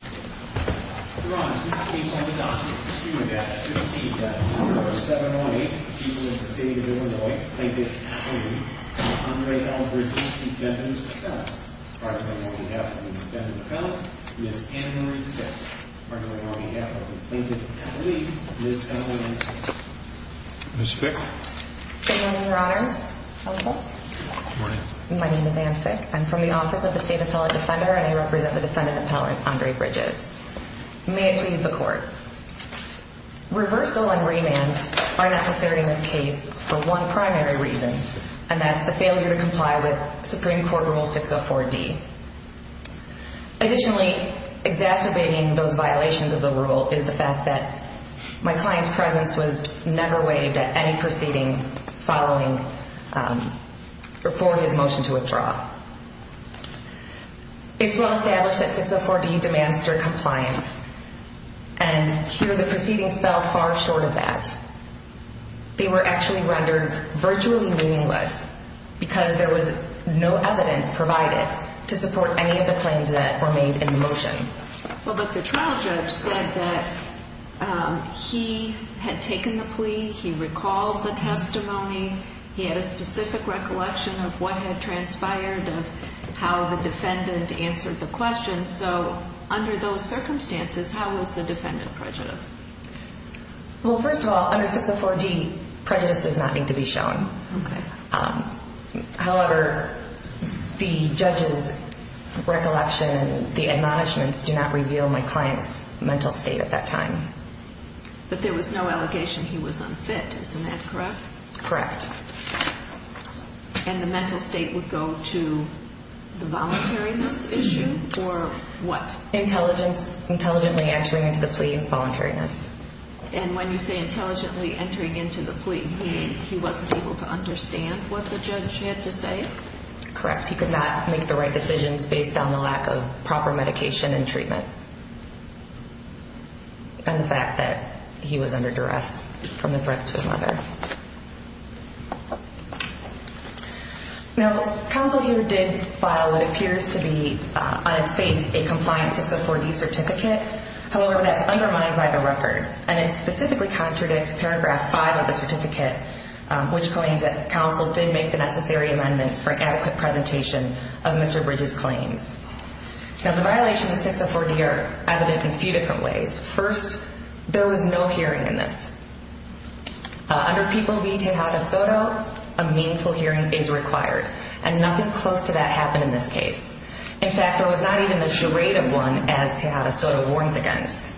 Defendant's Appellant Ms. Fick? Good Morning your honors. How are you both? Good Morning. My name is Ann Fick. I'm from the office of the State Appellate Defender and I represent the Defendant Appellant Andre Bridges. May it please the court. Reversal and remand are necessary in this case for one primary reason and that's the failure to comply with Supreme Court Rule 604D. Additionally, exacerbating those violations of the rule is the fact that my client's presence was never waived at any proceeding following or before his motion to withdraw. It's well established that 604D demands strict compliance and here the proceedings fell far short of that. They were actually rendered virtually meaningless because there was no evidence provided to support any of the claims that were made in the motion. Well but the trial judge said that he had taken the plea, he recalled the testimony, he had a specific recollection of what had transpired of how the defendant answered the question so under those circumstances how is the defendant prejudiced? Well first of all under 604D prejudice does not need to be shown. However, the judge's recollection, the admonishments do not reveal my client's mental state at that time. But there was no allegation he was unfit, correct? And the mental state would go to the voluntariness issue or what? Intelligently entering into the plea and voluntariness. And when you say intelligently entering into the plea you mean he wasn't able to understand what the judge had to say? Correct, he could not make the right decisions based on the lack of proper medication and treatment and the fact that he was under duress from the threat to his mother. Now counsel here did file what appears to be on its face a compliant 604D certificate. However, that's undermined by the record and it specifically contradicts paragraph 5 of the certificate which claims that counsel did make the necessary amendments for an adequate presentation of Mr. Bridges' claims. Now the plaintiff has no hearing in this. Under people v Tejada Soto a meaningful hearing is required and nothing close to that happened in this case. In fact there was not even the charade of one as Tejada Soto warns against.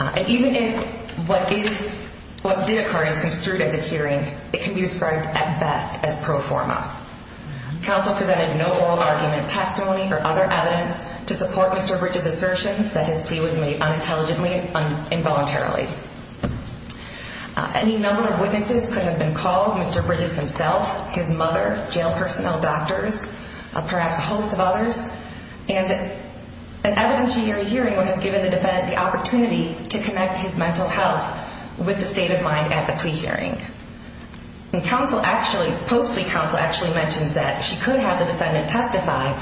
And even if what did occur is construed as a hearing it can be described at best as pro forma. Counsel presented no oral argument, testimony or other evidence to support Mr. Bridges' assertions that his plea was made unintelligently and involuntarily. Any number of witnesses could have been called, Mr. Bridges himself, his mother, jail personnel, doctors, perhaps a host of others, and an evidentiary hearing would have given the defendant the opportunity to connect his mental health with the state of mind at the plea hearing. And counsel actually, post plea counsel actually mentions that she could have the defendant testify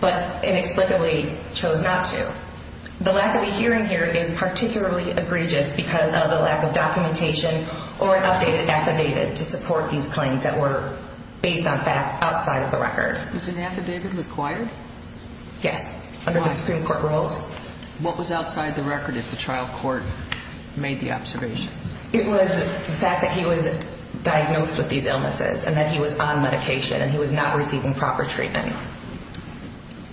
but inexplicably chose not to. The lack of a hearing here is particularly egregious because of the lack of documentation or an updated affidavit to support these claims that were based on facts outside of the record. Is an affidavit required? Yes, under the Supreme Court rules. What was outside the record if the trial court made the observation? It was the fact that he was diagnosed with these illnesses and that he was on medication and he was not receiving proper treatment.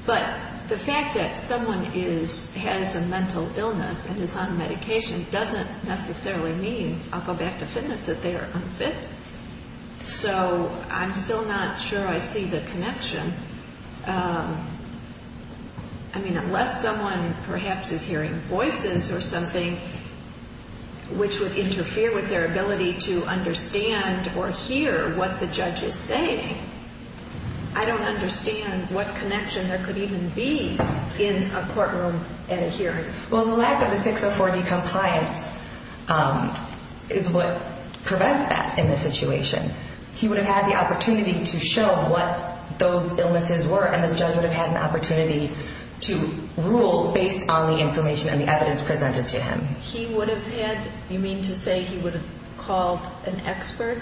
But the fact that someone is, has a mental illness and is on medication doesn't necessarily mean, I'll go back to fitness, that they are unfit. So I'm still not sure I see the connection. I mean, unless someone perhaps is hearing voices or something which would interfere with their ability to understand or hear what the judge is saying, I don't understand what connection there could even be in a courtroom at a hearing. Well, the lack of the 604D compliance is what prevents that in this situation. He would have had the opportunity to show what those illnesses were and the judge would have had an opportunity to rule based on the information and the evidence presented to him. He would have had, you mean to say he would have called an expert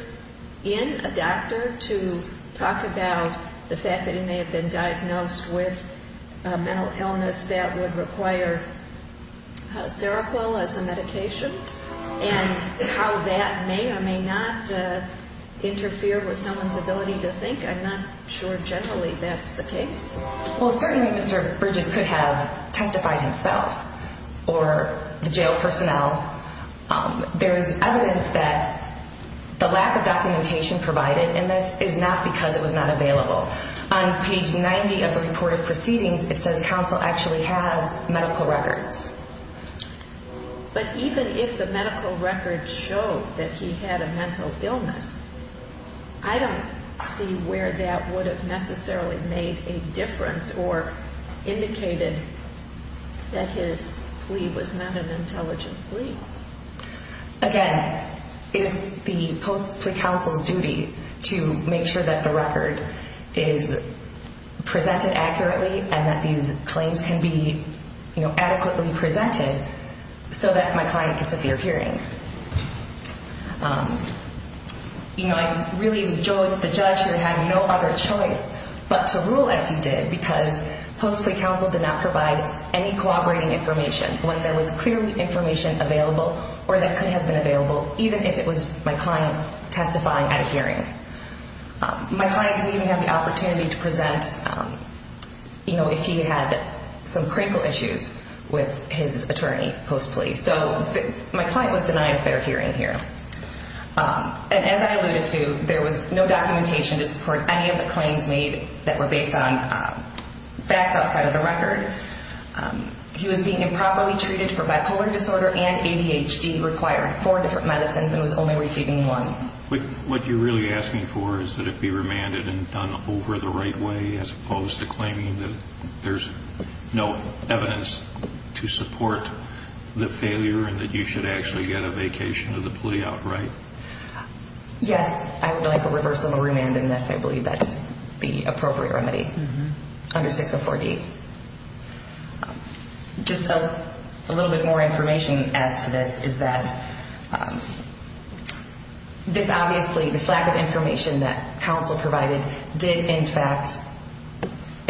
in, a doctor to talk about the fact that he may have been diagnosed with a mental illness that would require Seroquel as a medication and how that may or may not interfere with someone's ability to think. I'm not sure generally that's the case. Well, certainly Mr. Bridges could have testified himself or the jail personnel. There is evidence that the lack of documentation provided in this is not because it was not available. On page 90 of the reported proceedings it says counsel actually has medical records. But even if the medical records show that he had a mental illness, I don't see where that would have necessarily made a difference or indicated that his plea was not an intelligent plea. Again, it is the post plea counsel's responsibility to make sure that the record is presented accurately and that these claims can be adequately presented so that my client gets a fair hearing. You know, I really enjoyed the judge who had no other choice but to rule as he did because post plea counsel did not provide any corroborating information, one that was clearly information available or that could have been available even if it was my client testifying at a hearing. My client didn't even have the opportunity to present, you know, if he had some critical issues with his attorney post plea. So my client was denied a fair hearing here. And as I alluded to, there was no documentation to support any of the claims made that were based on facts outside of the record. He was being improperly treated for bipolar disorder and ADHD, required four different medicines and was only receiving one. What you're really asking for is that it be remanded and done over the right way as opposed to claiming that there's no evidence to support the failure and that you should actually get a vacation of the plea outright? Yes, I would like a reversible remand in this. I believe that's the appropriate remedy under 604D. Just a little bit more information as to this is that this obviously, this lack of information that counsel provided did in fact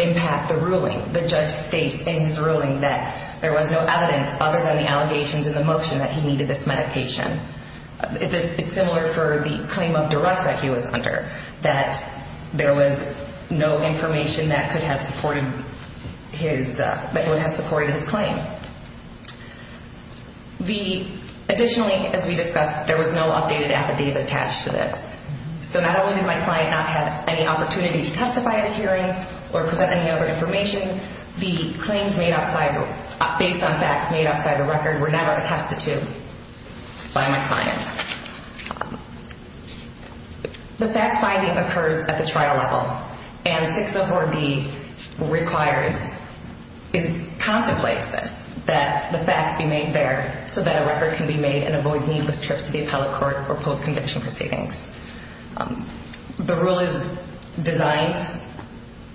impact the ruling. The judge states in his ruling that there was no evidence other than the allegations in the motion that he needed this medication. It's similar for the claim of duress that he was under, that there was no information that could have supported his claim. Additionally, as we discussed, there was no updated affidavit attached to this. So not only did my client not have any opportunity to testify at a hearing or present any other information, the claims made based on facts made outside the record were never attested to by my client. The fact finding occurs at the trial level and 604D requires, contemplates this, that the facts be made fair so that a record can be made and avoid needless trips to the appellate court or post-conviction proceedings. The rule is designed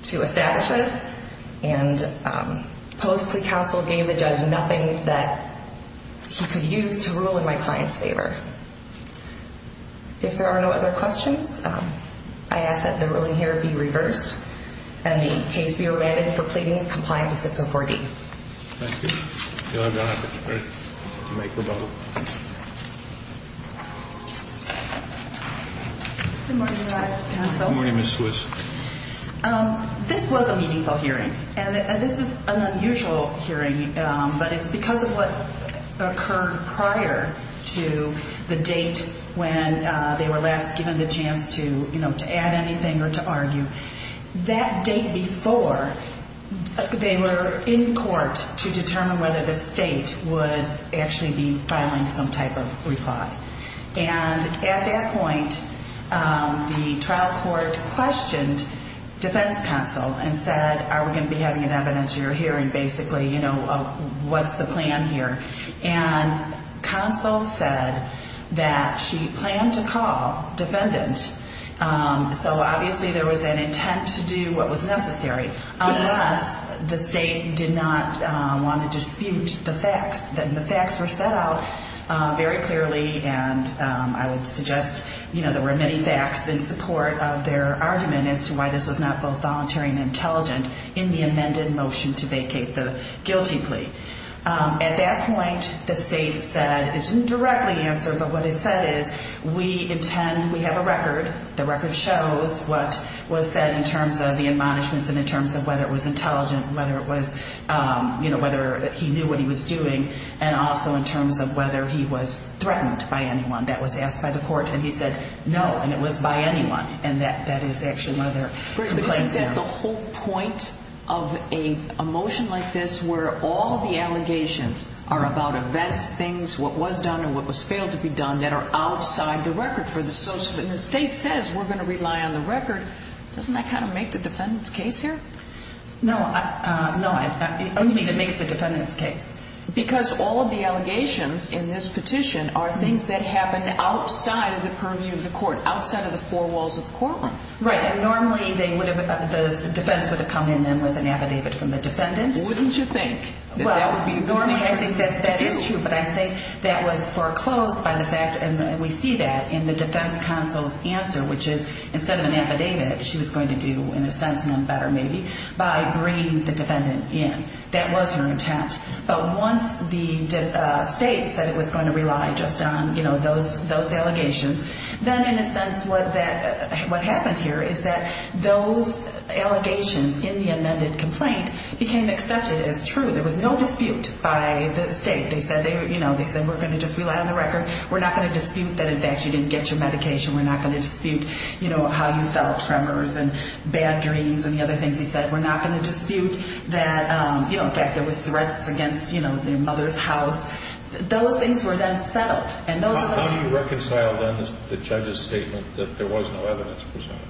to establish this and post-plea counsel gave the judge nothing that he could use to rule in my client's favor. If there are no other questions, I ask that the ruling here be reversed and the case be remanded for pleadings complying to 604D. Good morning, Your Honor. Good morning, Ms. Swiss. This was a meaningful hearing and this is an unusual hearing, but it's because of what occurred prior to the date when they were last given the chance to, you know, to add anything or to argue. That date before, they were in court to determine whether the state would actually be filing some type of reply. And at that point, the trial court questioned defense counsel and said, are we going to be having an evidentiary hearing, basically, you know, what's the plan here? And counsel said that she planned to call defendant, so obviously there was an intent to do what was necessary, unless the state did not want to dispute the facts. And the facts were set out very clearly and I would suggest, you know, that this was not both voluntary and intelligent in the amended motion to vacate the guilty plea. At that point, the state said, it didn't directly answer, but what it said is, we intend, we have a record, the record shows what was said in terms of the admonishments and in terms of whether it was intelligent, whether it was, you know, whether he knew what he was doing, and also in terms of whether he was threatened by anyone. That was asked by the court, and he said, no, and it was by anyone, and that is actually one of their complaints now. Great, but isn't that the whole point of a motion like this, where all the allegations are about events, things, what was done and what was failed to be done, that are outside the record for the social, and the state says, we're going to rely on the record, doesn't that kind of make the defendant's case here? No, no, it only makes the defendant's case. Because all of the allegations in this petition are things that happened outside of the purview of the court, outside of the four walls of the courtroom. Right, and normally, they would have, the defense would have come in then with an affidavit from the defendant. Wouldn't you think? Well, normally, I think that is true, but I think that was foreclosed by the fact, and we see that in the defense counsel's answer, which is, instead of an affidavit, she was going to do, in a sense, none better, maybe, by bringing the defendant in. That was her intent. But once the state said it was going to rely just on those allegations, then in a sense, what happened here is that those allegations in the amended complaint became accepted as true. There was no dispute by the state. They said, we're going to just rely on the record. We're not going to dispute that, in fact, you didn't get your medication. We're not going to dispute how you felt, tremors and bad dreams and the other things. He said, we're not going to dispute that, you know, in fact, there was threats against, you know, your mother's house. Those things were then settled. How do you reconcile, then, the judge's statement that there was no evidence presented?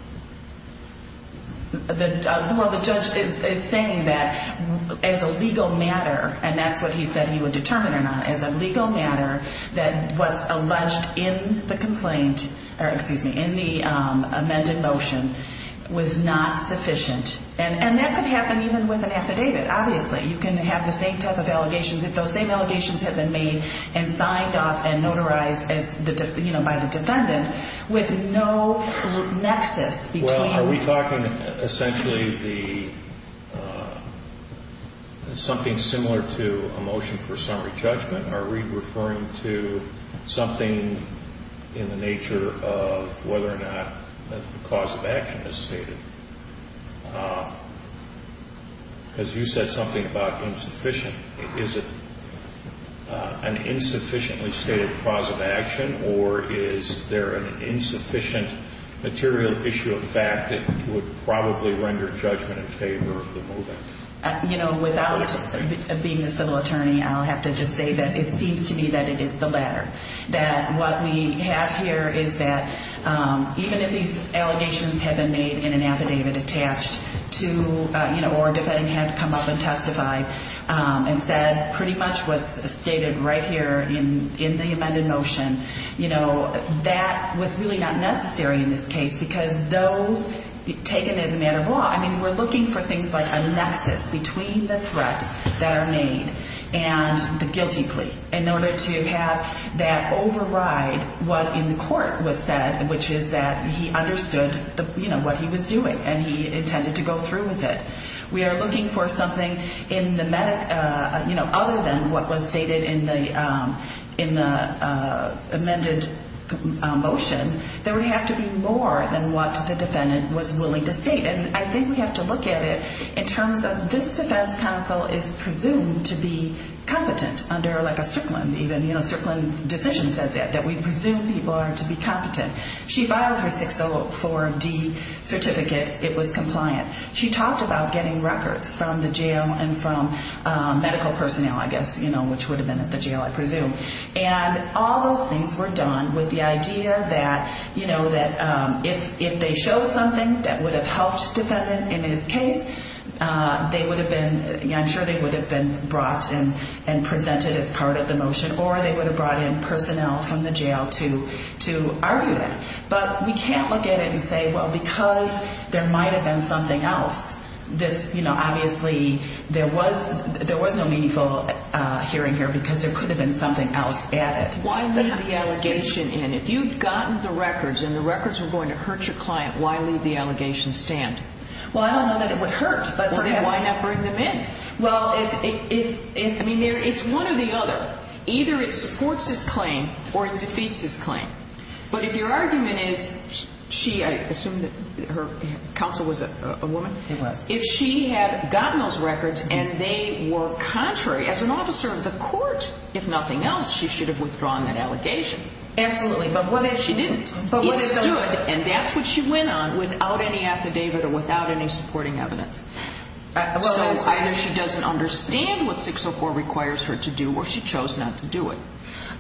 Well, the judge is saying that, as a legal matter, and that's what he said he would determine or not, as a legal matter, that what's alleged in the complaint, or excuse me, in the amended motion, was not sufficient. And that could happen even with an affidavit, obviously. You can have the same type of allegations, if those same allegations had been made and signed off and notarized as, you know, by the defendant, with no nexus between. Well, are we talking essentially the, something similar to a motion for summary judgment? Are we referring to something in the nature of whether or not the cause of action is stated? Because you said something about insufficient. Is it an insufficiently stated cause of action, or is there an insufficient material issue of fact that would probably render judgment in favor of the movement? You know, without being a civil attorney, I'll have to just say that it seems to me that it is the latter. That what we have here is that even if these allegations had been made in an affidavit attached to, you know, or a defendant had to come up and testify and said pretty much what's stated right here in the amended motion, you know, that was really not necessary in this case because those, taken as a matter of law, I mean, we're looking for things like a nexus between the threats that are made and the guilty plea in order to have that override what in the court was said, which is that he understood, you know, what he was doing and he intended to go through with it. We are looking for something in the, you know, other than what was stated in the amended motion that would have to be more than what the defendant was willing to state. And I think we have to look at it in terms of this defense counsel is presumed to be competent under like a Strickland, even, you know, Strickland decision says that, that we presume people are to be competent. She filed her 604D certificate. It was compliant. She talked about getting records from the jail and from medical personnel, I guess, you know, which would have been at the jail, I presume. And all those things were done with the idea that, you know, that if they showed something that would have helped defendant in his case, they would have been, I'm sure they would have been brought in and presented as part of the motion, or they would have brought in personnel from the jail to, to argue that. But we can't look at it and say, well, because there might've been something else, this, you know, obviously there was, there was no meaningful hearing here because there could have been something else added. Why leave the allegation in? If you've gotten the records and the records were going to hurt your client, why leave the allegation stand? Well, I don't know that it would hurt, but why not bring them in? Well, if, if, if, I mean, there, it's one or the other. Either it supports his claim or it defeats his claim. But if your argument is she, I assume that her counsel was a woman. He was. If she had gotten those records and they were contrary, as an officer of the court, if nothing else, she should have withdrawn that allegation. Absolutely. But what if she didn't? And that's what she went on without any affidavit or without any supporting evidence. So either she doesn't understand what 604 requires her to do or she chose not to do it.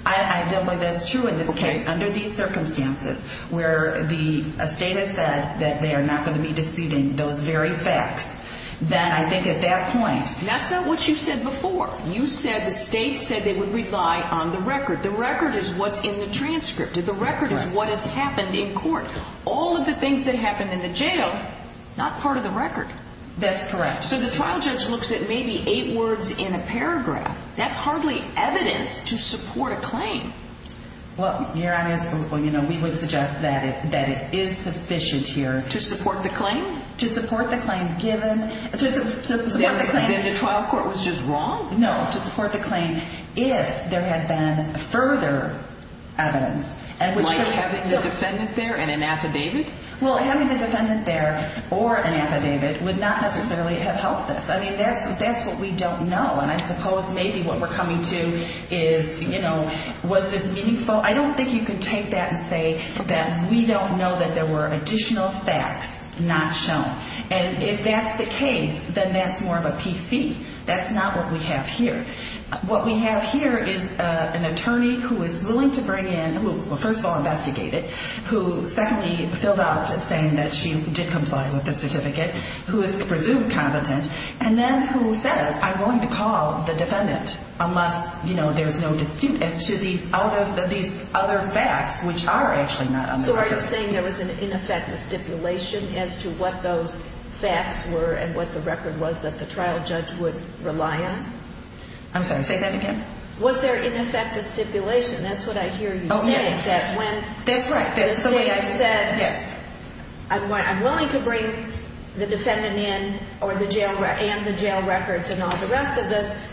I don't know if that's true in this case. Under these circumstances where the state has said that they are not going to be disputing those very facts, then I think at that point. That's not what you said before. You said the state said they would rely on the record. The record is what's in the transcript. The record is what has happened in court. All of the things that happened in the jail, not part of the record. That's correct. So the trial judge looks at maybe eight words in a paragraph. That's hardly evidence to support a claim. Well, Your Honor, you know, we would suggest that it is sufficient here. To support the claim? To support the claim given, to support the claim. Then the trial court was just wrong? No, to support the claim if there had been further evidence. And having the defendant there and an affidavit? Well, having the defendant there or an affidavit would not necessarily have helped us. I mean, that's that's what we don't know. And I suppose maybe what we're coming to is, you know, was this meaningful? I don't think you can take that and say that we don't know that there were additional facts not shown. And if that's the case, then that's more of a PC. That's not what we have here. What we have here is an attorney who is willing to bring in, first of all, investigate it, who secondly filled out saying that she did comply with the certificate, who is presumed competent, and then who says, I'm going to call the defendant unless, you know, there's no dispute as to these other facts which are actually not on the record. So are you saying there was, in effect, a stipulation as to what those facts were and what the record was that the trial judge would rely on? I'm sorry, say that again. Was there, in effect, a stipulation? That's what I hear you saying. That when the state said, yes, I'm willing to bring the defendant in or the jail and the jail records and all the rest of this.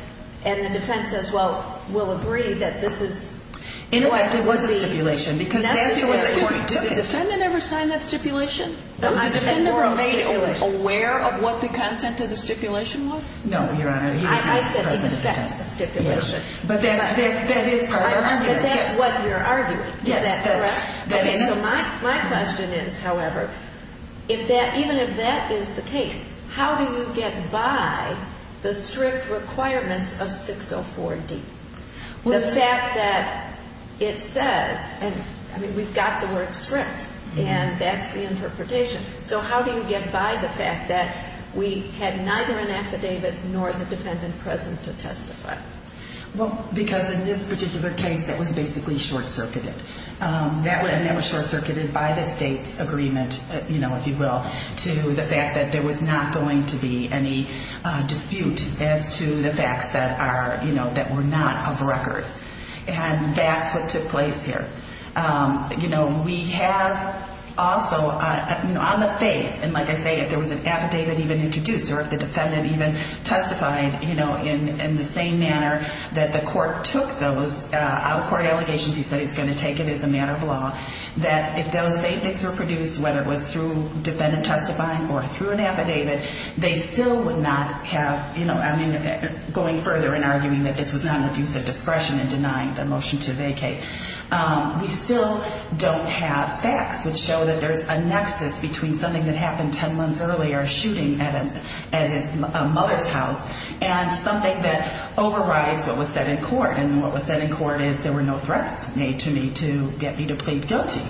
And the defense says, well, we'll agree that this is. In effect, it was a stipulation because that's the way the story took it. Did the defendant ever sign that stipulation? Was the defendant ever made aware of what the content of the stipulation was? No, Your Honor. I said, in effect, a stipulation. But that is what you're arguing. Is that correct? Okay. So my question is, however, if that, even if that is the case, how do you get by the strict requirements of 604D? The fact that it says, I mean, we've got the word strict, and that's the interpretation. So how do you get by the fact that we had neither an affidavit nor the defendant present to testify? Well, because in this particular case, that was basically short-circuited. That was short-circuited by the state's agreement, if you will, to the fact that there was not going to be any dispute as to the facts that are, you know, that were not of record. And that's what took place here. You know, we have also, you know, on the face, and like I say, if there was an affidavit even introduced or if the defendant even testified, you know, in the same manner that the court took those out-of-court allegations, he said he's going to take it as a matter of law, that if those same things were produced, whether it was through defendant testifying or through an affidavit, they still would not have, you know, I mean, going further and arguing that this was not an abuse of discretion and denying the motion to vacate. We still don't have facts which show that there's a nexus between something that happened 10 months earlier, a shooting at his mother's house, and something that overrides what was said in court. And what was said in court is there were no threats made to me to get me to plead guilty.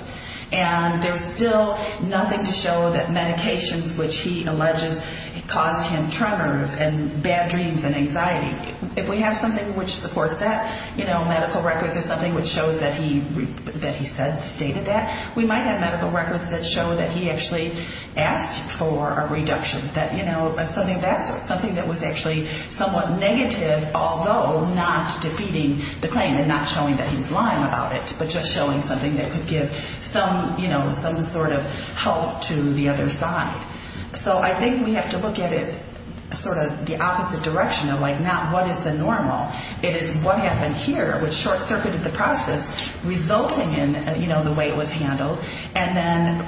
And there's still nothing to show that medications which he alleges caused him tremors and bad dreams and anxiety. If we have something which supports that, you know, medical records or something which shows that he said, stated that, we might have medical records that show that he actually asked for a reduction, that, you know, something of that sort, something that was actually somewhat negative, although not defeating the claim and not showing that he was lying about it, but just showing something that could give some, you know, some sort of help to the other side. So I think we have to look at it sort of the opposite direction of, like, not what is the normal. It is what happened here which short-circuited the process, resulting in, you know, the way it was handled, and then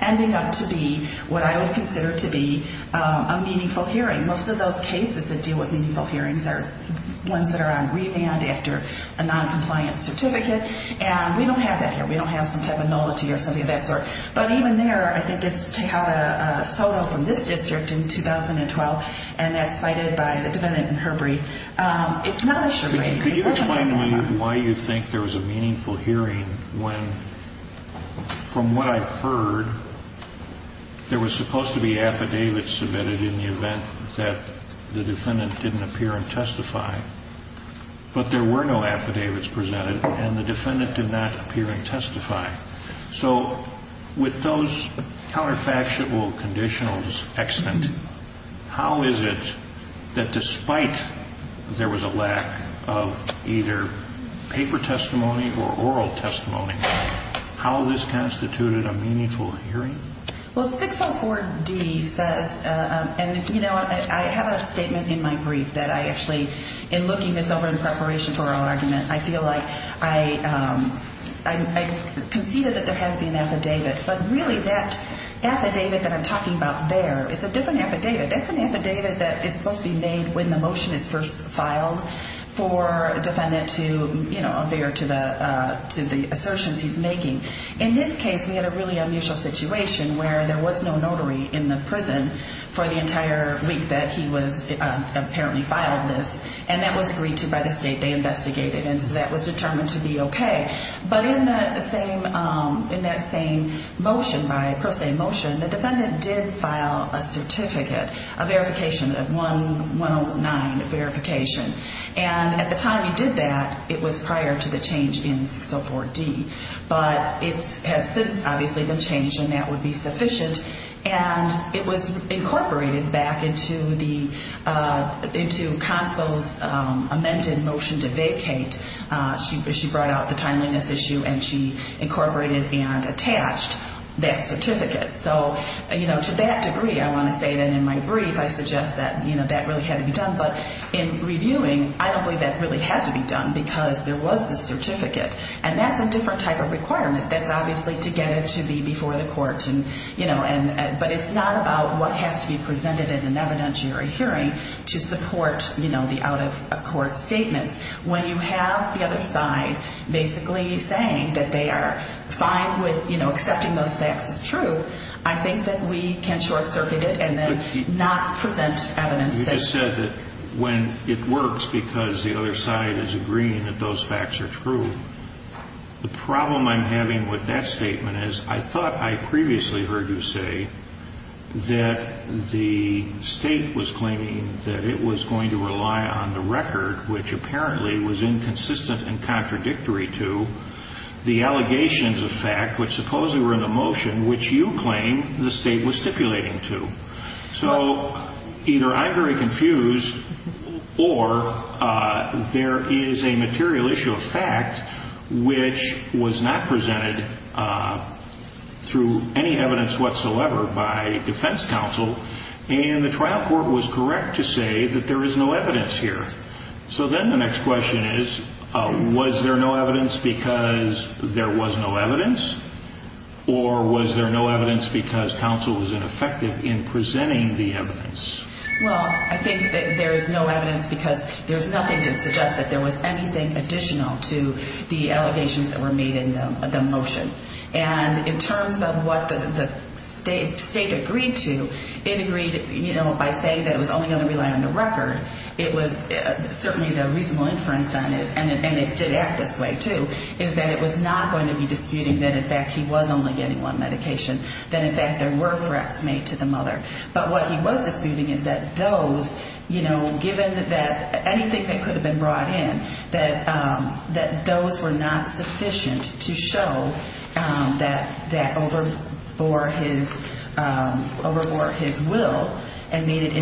ending up to be what I would consider to be a meaningful hearing. Most of those cases that deal with meaningful hearings are ones that are on remand after a noncompliant certificate. And we don't have that here. We don't have some type of nullity or something of that sort. But even there, I think it's to have a SOTA from this district in 2012, and that's cited by the defendant in Herbery. It's not a sure thing. Can you explain to me why you think there was a meaningful hearing when, from what I've heard, there was supposed to be affidavits submitted in the event that the defendant didn't appear and testify. But there were no affidavits presented, and the defendant did not appear and testify. So with those counterfactual conditionals extant, how is it that despite there was a lack of either paper testimony or oral testimony, how this constituted a meaningful hearing? Well, 604D says, and I have a statement in my brief that I actually, in looking this over in preparation for our argument, I feel like I conceded that there had to be an affidavit. But really, that affidavit that I'm talking about there is a different affidavit. That's an affidavit that is supposed to be made when the motion is first filed for a defendant to appear to the assertions he's making. In this case, we had a really unusual situation where there was no notary in the prison for the entire week that he was apparently filed this, and that was agreed to by the state they investigated. And so that was determined to be okay. But in that same motion, by pro se motion, the defendant did file a certificate, a verification, a 109 verification. And at the time he did that, it was prior to the change in 604D. But it has since obviously been changed, and that would be sufficient. And it was incorporated back into Consul's amended motion to vacate. She brought out the timeliness issue, and she incorporated and attached that certificate. So to that degree, I want to say that in my brief, I suggest that that really had to be done. But in reviewing, I don't believe that really had to be done because there was the certificate. And that's a different type of requirement. That's obviously to get it to be before the court. But it's not about what has to be presented in an evidentiary hearing to support the out of court statements. When you have the other side basically saying that they are fine with accepting those facts as true, I think that we can short circuit it and then not present evidence. You just said that when it works because the other side is agreeing that those facts are true. The problem I'm having with that statement is I thought I previously heard you say that the state was claiming that it was going to rely on the record, which apparently was inconsistent and contradictory to the allegations of fact, which supposedly were in the motion, which you claim the state was stipulating to. So either I'm very confused or there is a material issue of fact, which was not presented through any evidence whatsoever by defense counsel. And the trial court was correct to say that there is no evidence here. So then the next question is, was there no evidence because there was no evidence? Or was there no evidence because counsel was ineffective in presenting the evidence? Well, I think there is no evidence because there's nothing to suggest that there was anything additional to the allegations that were made in the motion. And in terms of what the state agreed to, it agreed by saying that it was only going to rely on the record. It was certainly the reasonable inference on it. And it did act this way, too, is that it was not going to be disputing that, in fact, he was only getting one medication, that, in fact, there were threats made to the mother. But what he was disputing is that those, you know, given that anything that could have been brought in, that those were not sufficient to show that overbore his will and made it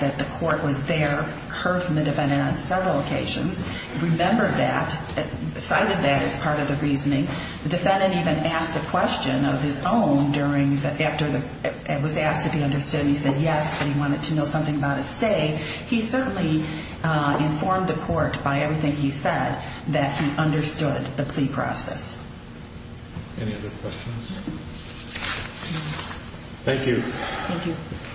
that the court was there, heard from the defendant on several occasions, remembered that, cited that as part of the reasoning. The defendant even asked a question of his own during the, after the, was asked if he understood, and he said yes, but he wanted to know something about his stay. He certainly informed the court by everything he said that he understood the plea process. Any other questions? Thank you. Thank you. Thank you,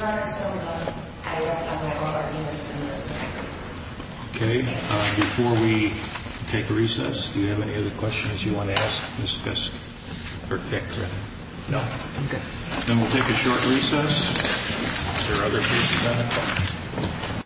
Your Honor. So, I will stop at all arguments in this case. Okay. Before we take recess, do you have any other questions you want to ask Ms. Fiske or Dick, or anything? No, I'm good. Then we'll take a short recess. Is there other cases on the court?